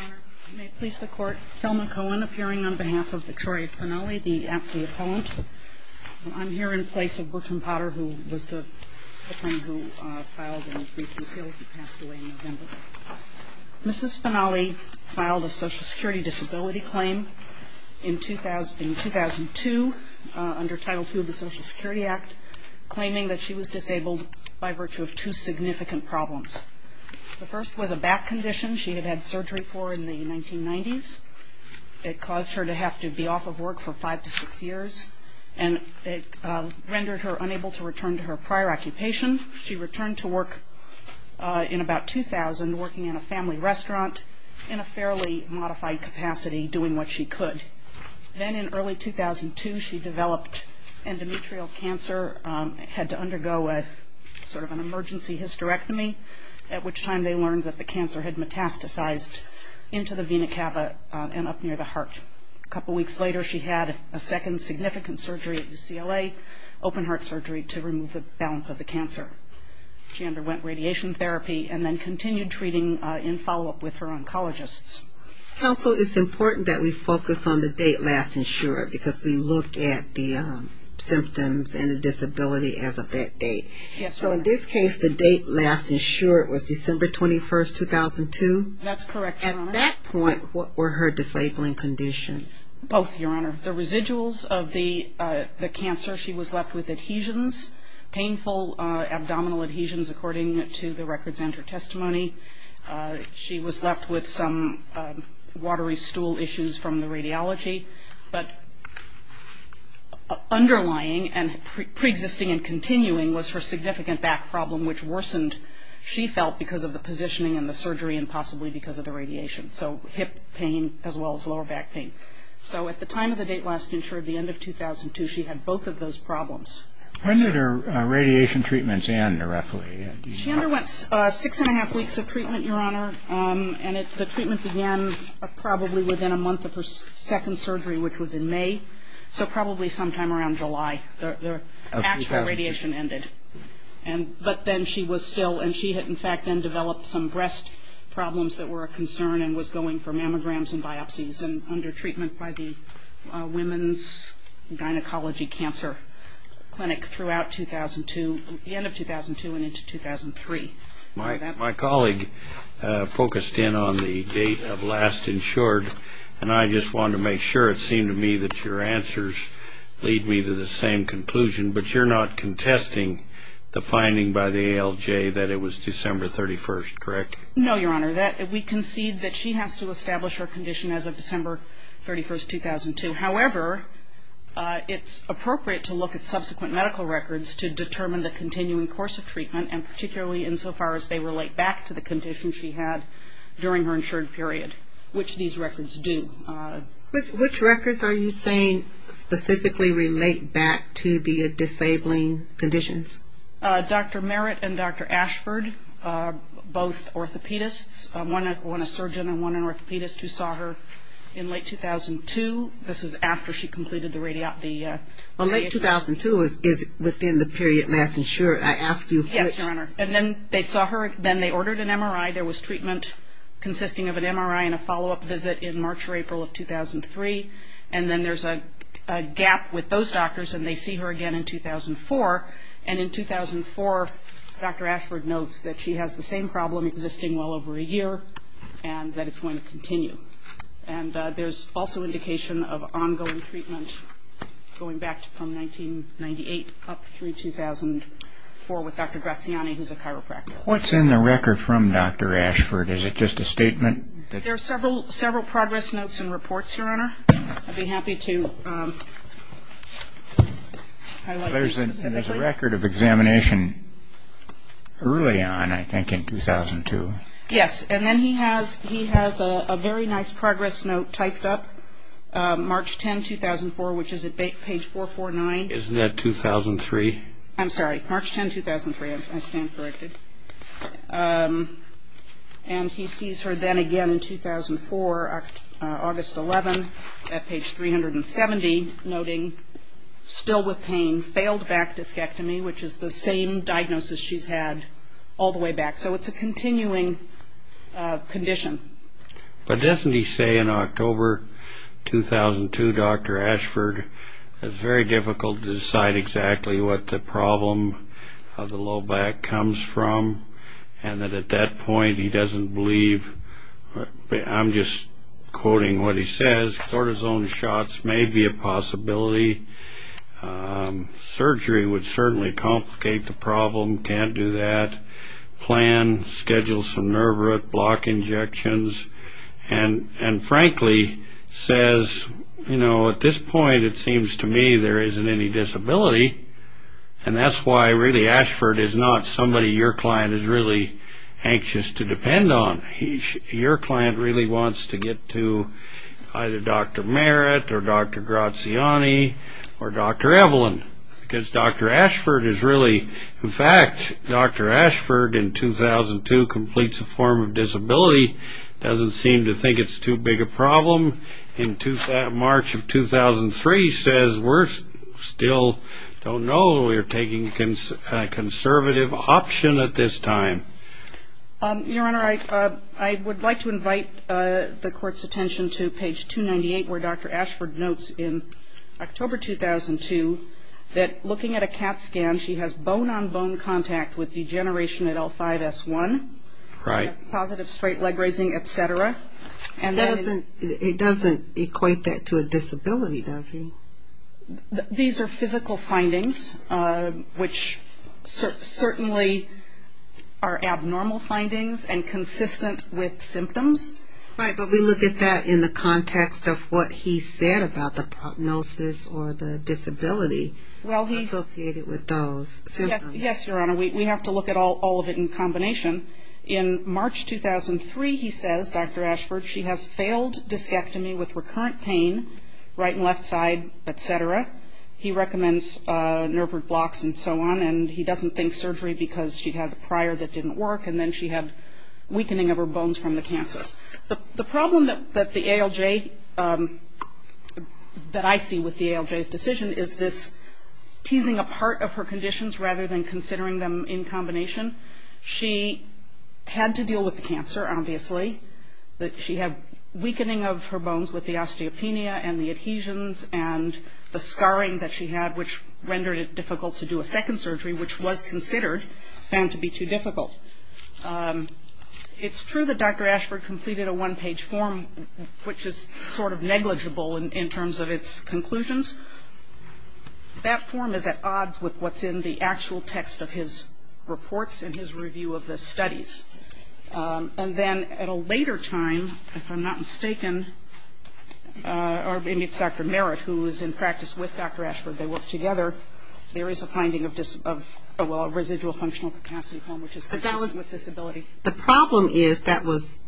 Your Honor, may it please the Court, Thelma Cohen appearing on behalf of Victoria Finale, the aptly appellant. I'm here in place of Bertrand Potter, who was the friend who filed a brief appeal. He passed away in November. Mrs. Finale filed a Social Security disability claim in 2002 under Title II of the Social Security Act, claiming that she was disabled by virtue of two significant problems. The first was a back condition she had had surgery for in the 1990s. It caused her to have to be off of work for five to six years, and it rendered her unable to return to her prior occupation. She returned to work in about 2000, working in a family restaurant in a fairly modified capacity, doing what she could. Then in early 2002, she developed endometrial cancer, had to undergo sort of an emergency hysterectomy, at which time they learned that the cancer had metastasized into the vena cava and up near the heart. A couple weeks later, she had a second significant surgery at UCLA, open heart surgery, to remove the balance of the cancer. She underwent radiation therapy and then continued treating in follow-up with her oncologists. Counsel, it's important that we focus on the date last insured, because we look at the symptoms and the disability as of that date. Yes, Your Honor. So in this case, the date last insured was December 21st, 2002? That's correct, Your Honor. At that point, what were her disabling conditions? Both, Your Honor. The residuals of the cancer, she was left with adhesions, painful abdominal adhesions, according to the records and her testimony. She was left with some watery stool issues from the radiology. But underlying and preexisting and continuing was her significant back problem, which worsened, she felt, because of the positioning and the surgery and possibly because of the radiation, so hip pain as well as lower back pain. So at the time of the date last insured, the end of 2002, she had both of those problems. When did her radiation treatments end, roughly? Chandra went six and a half weeks of treatment, Your Honor, and the treatment began probably within a month of her second surgery, which was in May, so probably sometime around July, the actual radiation ended. But then she was still, and she had, in fact, then developed some breast problems that were a concern and was going for mammograms and biopsies and under treatment by the Women's Gynecology Cancer Clinic throughout 2002, the end of 2002 and into 2003. My colleague focused in on the date of last insured, and I just wanted to make sure it seemed to me that your answers lead me to the same conclusion, but you're not contesting the finding by the ALJ that it was December 31st, correct? No, Your Honor. We concede that she has to establish her condition as of December 31st, 2002. However, it's appropriate to look at subsequent medical records to determine the continuing course of treatment, and particularly insofar as they relate back to the condition she had during her insured period, which these records do. Which records are you saying specifically relate back to the disabling conditions? Dr. Merritt and Dr. Ashford, both orthopedists, one a surgeon and one an orthopedist who saw her in late 2002. This is after she completed the radiation. Well, late 2002 is within the period last insured, I ask you. Yes, Your Honor. And then they saw her, then they ordered an MRI. There was treatment consisting of an MRI and a follow-up visit in March or April of 2003. And then there's a gap with those doctors, and they see her again in 2004. And in 2004, Dr. Ashford notes that she has the same problem existing well over a year and that it's going to continue. And there's also indication of ongoing treatment going back from 1998 up through 2004 with Dr. Graziani, who's a chiropractor. What's in the record from Dr. Ashford? Is it just a statement? There are several progress notes and reports, Your Honor. I'd be happy to highlight these specifically. There's a record of examination early on, I think, in 2002. Yes, and then he has a very nice progress note typed up, March 10, 2004, which is at page 449. Isn't that 2003? I'm sorry, March 10, 2003. I stand corrected. And he sees her then again in 2004, August 11, at page 370, noting still with pain, failed back discectomy, which is the same diagnosis she's had all the way back. So it's a continuing condition. But doesn't he say in October 2002, Dr. Ashford, it's very difficult to decide exactly what the problem of the low back comes from, and that at that point he doesn't believe? I'm just quoting what he says. Cortisone shots may be a possibility. Surgery would certainly complicate the problem. Can't do that. Plan, schedule some nerve root block injections. And frankly says, you know, at this point it seems to me there isn't any disability. And that's why really Ashford is not somebody your client is really anxious to depend on. Your client really wants to get to either Dr. Merritt or Dr. Graziani or Dr. Evelyn. Because Dr. Ashford is really, in fact, Dr. Ashford in 2002 completes a form of disability, doesn't seem to think it's too big a problem. In March of 2003 says, we still don't know. We're taking a conservative option at this time. Your Honor, I would like to invite the Court's attention to page 298 where Dr. Ashford notes in October 2002 that looking at a CAT scan, she has bone-on-bone contact with degeneration at L5-S1. Right. Positive straight leg raising, et cetera. It doesn't equate that to a disability, does it? These are physical findings, which certainly are abnormal findings and consistent with symptoms. Right, but we look at that in the context of what he said about the prognosis or the disability associated with those symptoms. Yes, Your Honor. We have to look at all of it in combination. In March 2003 he says, Dr. Ashford, she has failed discectomy with recurrent pain, right and left side, et cetera. He recommends nerve root blocks and so on, and he doesn't think surgery because she had a prior that didn't work, and then she had weakening of her bones from the cancer. The problem that the ALJ, that I see with the ALJ's decision, is this teasing apart of her conditions rather than considering them in combination. She had to deal with the cancer, obviously. She had weakening of her bones with the osteopenia and the adhesions and the scarring that she had, which rendered it difficult to do a second surgery, which was considered, found to be too difficult. It's true that Dr. Ashford completed a one-page form, which is sort of negligible in terms of its conclusions. That form is at odds with what's in the actual text of his reports and his review of the studies. And then at a later time, if I'm not mistaken, or maybe it's Dr. Merritt who was in practice with Dr. Ashford, they worked together, there is a finding of residual functional capacity, which is consistent with disability. The problem is that was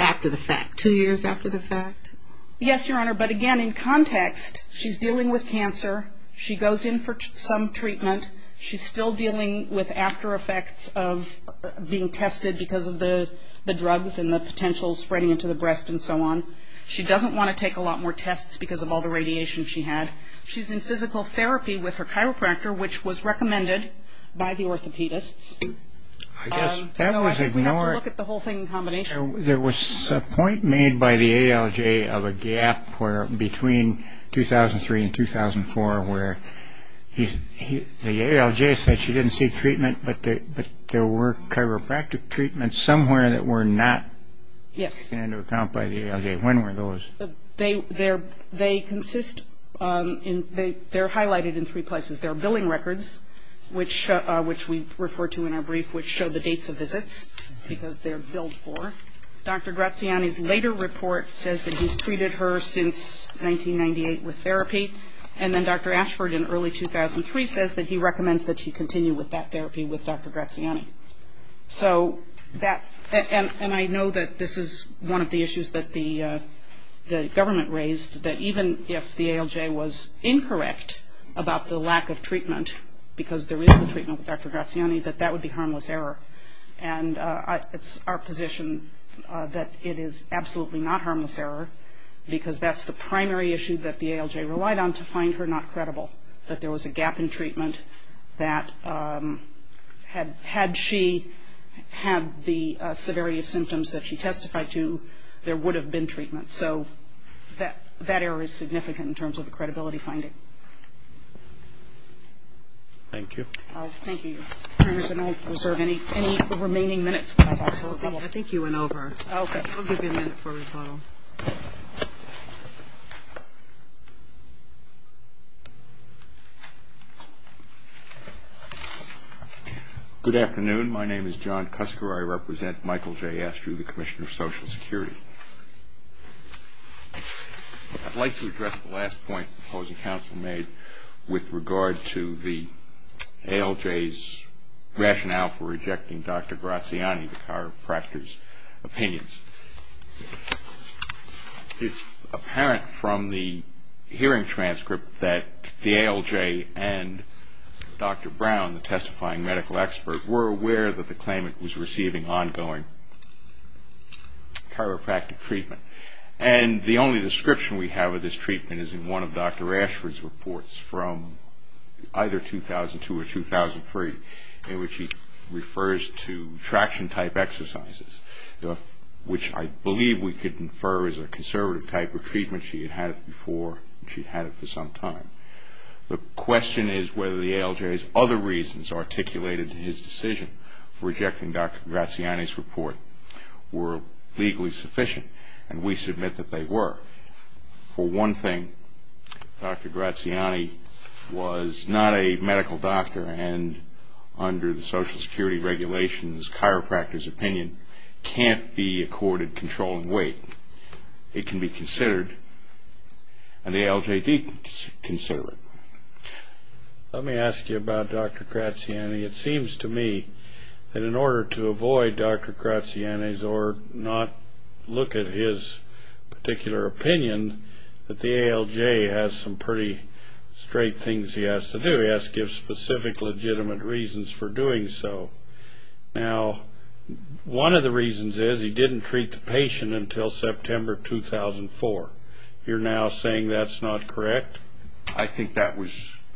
after the fact, two years after the fact? Yes, Your Honor, but again, in context, she's dealing with cancer. She goes in for some treatment. She's still dealing with after effects of being tested because of the drugs and the potential spreading into the breast and so on. She doesn't want to take a lot more tests because of all the radiation she had. She's in physical therapy with her chiropractor, which was recommended by the orthopedists. I guess that was a, you know what? So I think we have to look at the whole thing in combination. There was a point made by the ALJ of a gap between 2003 and 2004 where the ALJ said she didn't see treatment, but there were chiropractic treatments somewhere that were not taken into account by the ALJ. When were those? They consist in, they're highlighted in three places. There are billing records, which we refer to in our brief, which show the dates of visits because they're billed for. Dr. Graziani's later report says that he's treated her since 1998 with therapy, and then Dr. Ashford in early 2003 says that he recommends that she continue with that therapy with Dr. Graziani. So that, and I know that this is one of the issues that the government raised, that even if the ALJ was incorrect about the lack of treatment because there is a treatment with Dr. Graziani, that that would be harmless error. And it's our position that it is absolutely not harmless error because that's the primary issue that the ALJ relied on to find her not credible, that there was a gap in treatment that had she had the severity of symptoms that she testified to, there would have been treatment. So that error is significant in terms of the credibility finding. Thank you. Thank you. Congresswoman, I reserve any remaining minutes. I think you went over. Okay. We'll give you a minute for rebuttal. Good afternoon. My name is John Cusker. I represent Michael J. Astrew, the Commissioner of Social Security. I'd like to address the last point the opposing council made with regard to the ALJ's rationale for rejecting Dr. Graziani, the chiropractor's opinions. It's apparent from the hearing transcript that the ALJ and Dr. Brown, the testifying medical expert, were aware that the claimant was receiving ongoing chiropractic treatment. And the only description we have of this treatment is in one of Dr. Ashford's reports from either 2002 or 2003 in which he refers to traction-type exercises, which I believe we could infer is a conservative type of treatment. She had had it before and she had it for some time. The question is whether the ALJ's other reasons articulated in his decision for rejecting Dr. Graziani's report were legally sufficient, and we submit that they were. For one thing, Dr. Graziani was not a medical doctor and under the Social Security regulations chiropractor's opinion can't be accorded controlling weight. It can be considered, and the ALJ did consider it. Let me ask you about Dr. Graziani. It seems to me that in order to avoid Dr. Graziani's or not look at his particular opinion, that the ALJ has some pretty straight things he has to do. He has to give specific legitimate reasons for doing so. Now, one of the reasons is he didn't treat the patient until September 2004. You're now saying that's not correct? I think that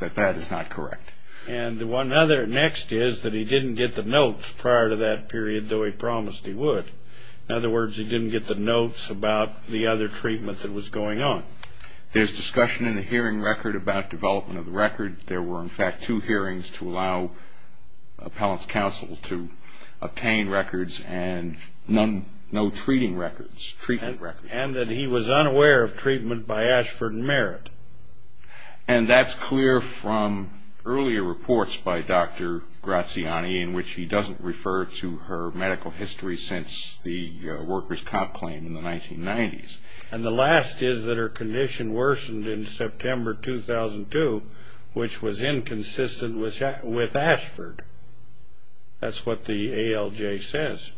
that is not correct. And the next is that he didn't get the notes prior to that period, though he promised he would. In other words, he didn't get the notes about the other treatment that was going on. There's discussion in the hearing record about development of the record. There were, in fact, two hearings to allow appellant's counsel to obtain records and no treating records, treatment records. And that he was unaware of treatment by Ashford and Merritt. And that's clear from earlier reports by Dr. Graziani in which he doesn't refer to her medical history since the workers' comp claim in the 1990s. And the last is that her condition worsened in September 2002, which was inconsistent with Ashford. That's what the ALJ says.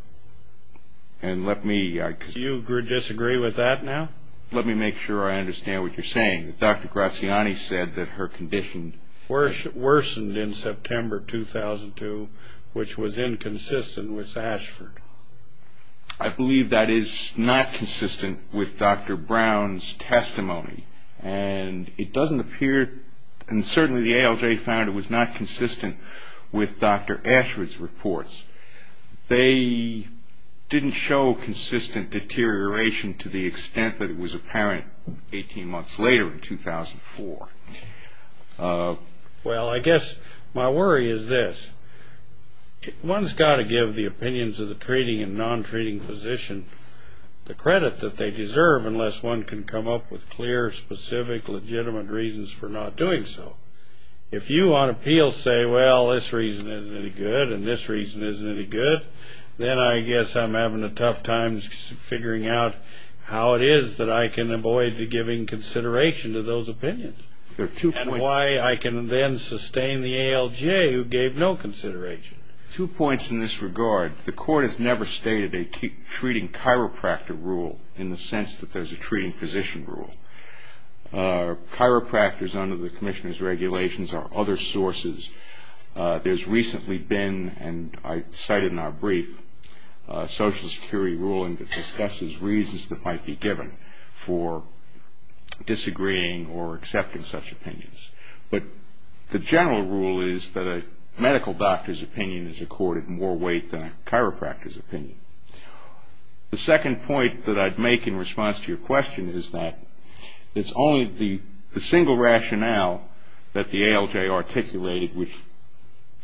And let me... Do you disagree with that now? Let me make sure I understand what you're saying. Dr. Graziani said that her condition... Worsened in September 2002, which was inconsistent with Ashford. I believe that is not consistent with Dr. Brown's testimony. And it doesn't appear... And certainly the ALJ found it was not consistent with Dr. Ashford's reports. They didn't show consistent deterioration to the extent that it was apparent 18 months later in 2004. Well, I guess my worry is this. One's got to give the opinions of the treating and non-treating physician the credit that they deserve unless one can come up with clear, specific, legitimate reasons for not doing so. If you on appeal say, well, this reason isn't any good and this reason isn't any good, then I guess I'm having a tough time figuring out how it is that I can avoid giving consideration to those opinions. There are two points... And why I can then sustain the ALJ, who gave no consideration. Two points in this regard. The court has never stated a treating chiropractor rule in the sense that there's a treating physician rule. Chiropractors under the commissioner's regulations are other sources. There's recently been, and I cited in our brief, a Social Security ruling that discusses reasons that might be given for disagreeing or accepting such opinions. But the general rule is that a medical doctor's opinion is accorded more weight than a chiropractor's opinion. The second point that I'd make in response to your question is that it's only the single rationale that the ALJ articulated, which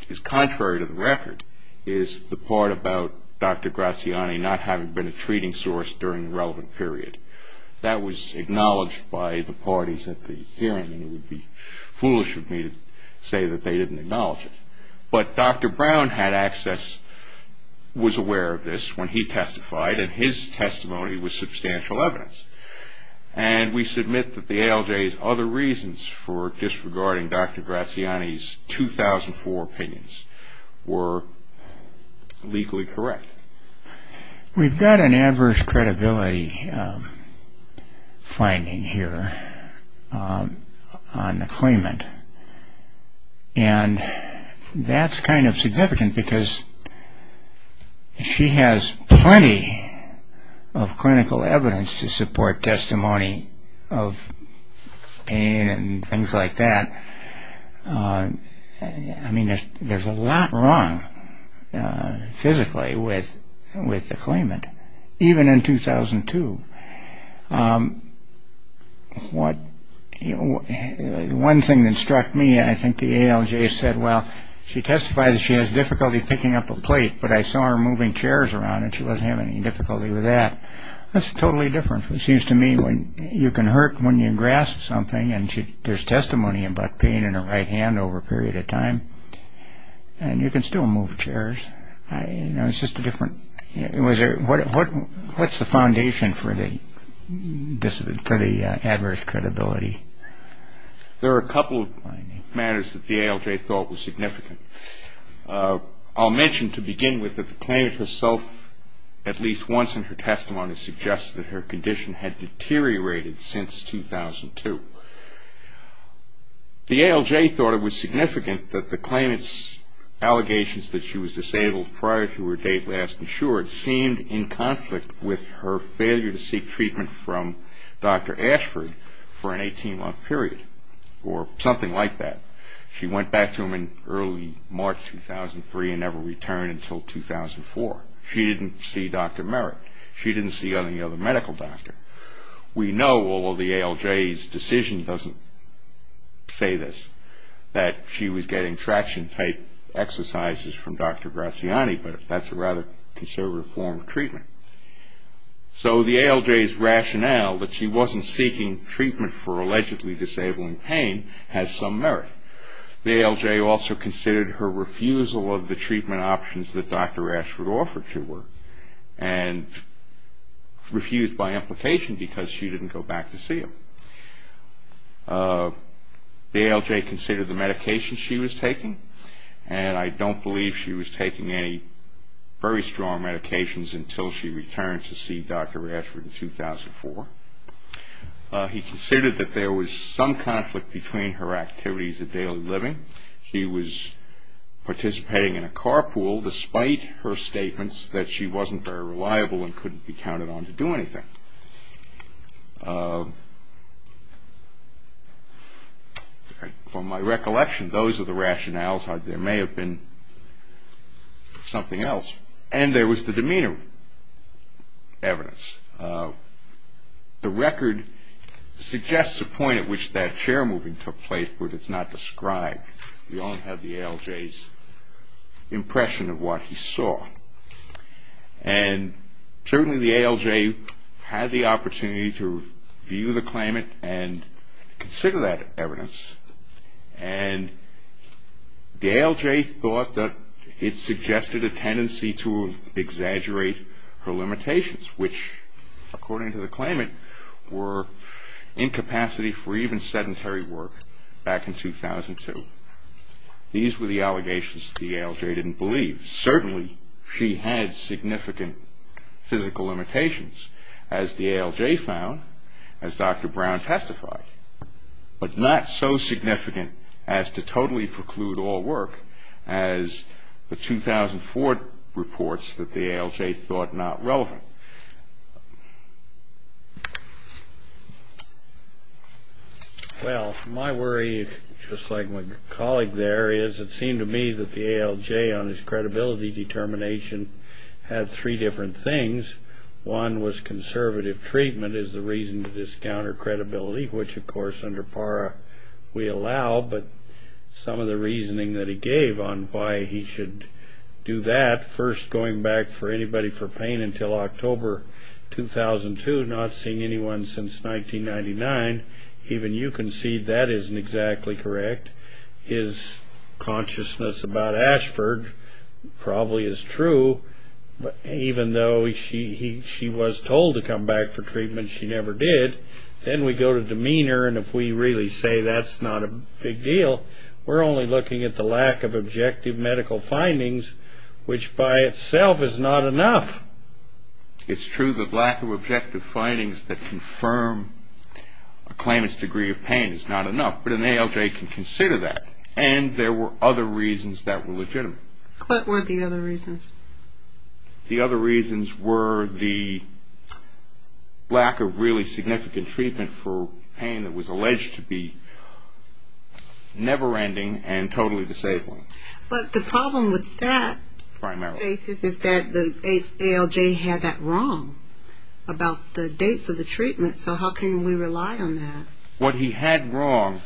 is contrary to the record, is the part about Dr. Graziani not having been a treating source during the relevant period. That was acknowledged by the parties at the hearing, and it would be foolish of me to say that they didn't acknowledge it. But Dr. Brown had access, was aware of this when he testified, and his testimony was substantial evidence. And we submit that the ALJ's other reasons for disregarding Dr. Graziani's 2004 opinions were legally correct. We've got an adverse credibility finding here on the claimant. And that's kind of significant because she has plenty of clinical evidence to support testimony of pain and things like that. I mean, there's a lot wrong physically with the claimant, even in 2002. One thing that struck me, I think the ALJ said, well, she testified that she has difficulty picking up a plate, but I saw her moving chairs around and she doesn't have any difficulty with that. That's totally different. It seems to me when you can hurt when you grasp something and there's testimony about pain in her right hand over a period of time, and you can still move chairs. It's just a different, what's the foundation for the adverse credibility? There are a couple of matters that the ALJ thought were significant. I'll mention to begin with that the claimant herself, at least once in her testimony, suggested that her condition had deteriorated since 2002. The ALJ thought it was significant that the claimant's allegations that she was disabled prior to her date last insured seemed in conflict with her failure to seek treatment from Dr. Ashford for an 18-month period or something like that. She went back to him in early March 2003 and never returned until 2004. She didn't see Dr. Merritt. She didn't see any other medical doctor. We know, although the ALJ's decision doesn't say this, that she was getting traction-type exercises from Dr. Graziani, but that's a rather conservative form of treatment. So the ALJ's rationale that she wasn't seeking treatment for allegedly disabling pain has some merit. The ALJ also considered her refusal of the treatment options that Dr. Ashford offered to her and refused by implication because she didn't go back to see him. The ALJ considered the medications she was taking, and I don't believe she was taking any very strong medications until she returned to see Dr. Ashford in 2004. He considered that there was some conflict between her activities of daily living. He was participating in a carpool despite her statements that she wasn't very reliable and couldn't be counted on to do anything. From my recollection, those are the rationales. There may have been something else, and there was the demeanor evidence. The record suggests a point at which that chair moving took place, but it's not described. We only have the ALJ's impression of what he saw. And certainly the ALJ had the opportunity to review the claimant and consider that evidence. And the ALJ thought that it suggested a tendency to exaggerate her limitations, which, according to the claimant, were incapacity for even sedentary work back in 2002. These were the allegations the ALJ didn't believe. Certainly she had significant physical limitations, as the ALJ found, as Dr. Brown testified, but not so significant as to totally preclude all work as the 2004 reports that the ALJ thought not relevant. Well, my worry, just like my colleague there, is it seemed to me that the ALJ, on his credibility determination, had three different things. One was conservative treatment is the reason to discount her credibility, which, of course, under PARA we allow. But some of the reasoning that he gave on why he should do that, first going back for anybody for pain until October 2002, not seeing anyone since 1999, even you can see that isn't exactly correct. His consciousness about Ashford probably is true. Even though she was told to come back for treatment, she never did. Then we go to demeanor, and if we really say that's not a big deal, we're only looking at the lack of objective medical findings, which by itself is not enough. It's true that lack of objective findings that confirm a claimant's degree of pain is not enough, but an ALJ can consider that, and there were other reasons that were legitimate. What were the other reasons? The other reasons were the lack of really significant treatment for pain that was alleged to be never-ending and totally disabling. But the problem with that basis is that the ALJ had that wrong about the dates of the treatment, so how can we rely on that? What he had wrong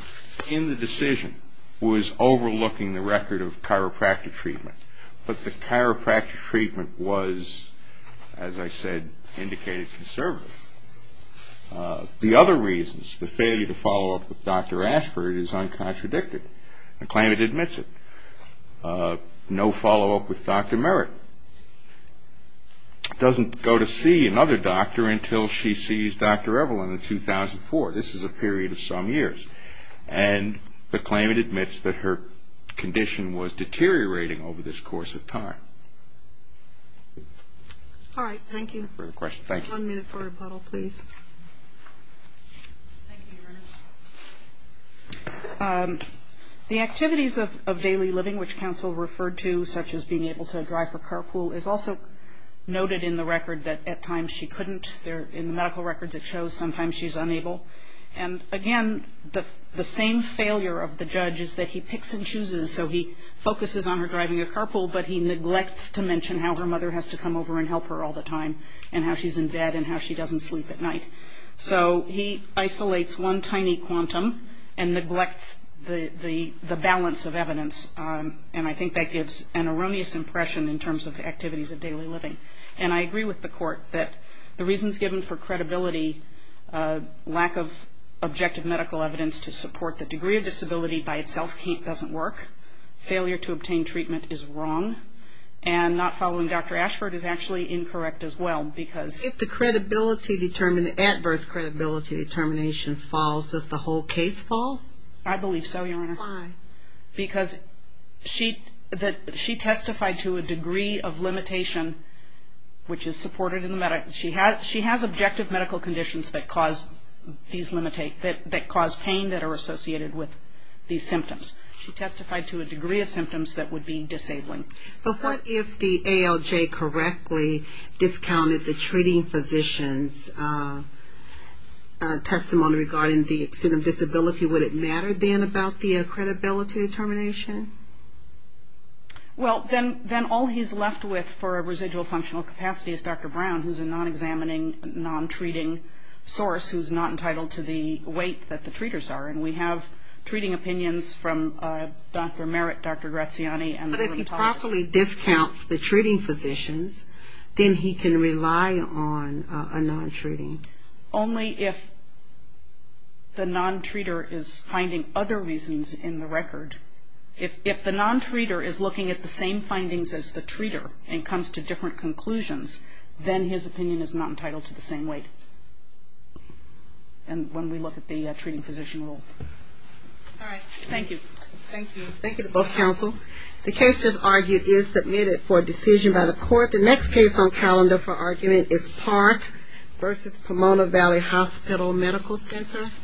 in the decision was overlooking the record of chiropractic treatment, but the chiropractic treatment was, as I said, indicated conservative. The other reasons, the failure to follow up with Dr. Ashford is uncontradicted. The claimant admits it. No follow-up with Dr. Merritt. The claimant doesn't go to see another doctor until she sees Dr. Evelyn in 2004. This is a period of some years, and the claimant admits that her condition was deteriorating over this course of time. All right, thank you. Further questions? Thank you. One minute for rebuttal, please. Thank you, Your Honor. The activities of daily living which counsel referred to, such as being able to drive her carpool, is also noted in the record that at times she couldn't. In the medical records it shows sometimes she's unable. And, again, the same failure of the judge is that he picks and chooses, so he focuses on her driving a carpool, but he neglects to mention how her mother has to come over and help her all the time and how she's in bed and how she doesn't sleep at night. So he isolates one tiny quantum and neglects the balance of evidence, and I think that gives an erroneous impression in terms of the activities of daily living. And I agree with the Court that the reasons given for credibility, lack of objective medical evidence to support the degree of disability by itself doesn't work, failure to obtain treatment is wrong, and not following Dr. Ashford is actually incorrect as well because the credibility determined and the adverse credibility determination falls. Does the whole case fall? I believe so, Your Honor. Why? Because she testified to a degree of limitation which is supported in the medical. She has objective medical conditions that cause pain that are associated with these symptoms. She testified to a degree of symptoms that would be disabling. But what if the ALJ correctly discounted the treating physician's testimony regarding the extent of disability? Would it matter then about the credibility determination? Well, then all he's left with for residual functional capacity is Dr. Brown, who's a non-examining, non-treating source who's not entitled to the weight that the treaters are, and we have treating opinions from Dr. Merritt, Dr. Graziani, and the rheumatologist. But if he properly discounts the treating physicians, then he can rely on a non-treating. Only if the non-treater is finding other reasons in the record. If the non-treater is looking at the same findings as the treater and comes to different conclusions, then his opinion is not entitled to the same weight. And when we look at the treating physician rule. All right. Thank you. Thank you. Thank you to both counsel. The case just argued is submitted for decision by the court. The next case on calendar for argument is Park v. Pomona Valley Hospital Medical Center.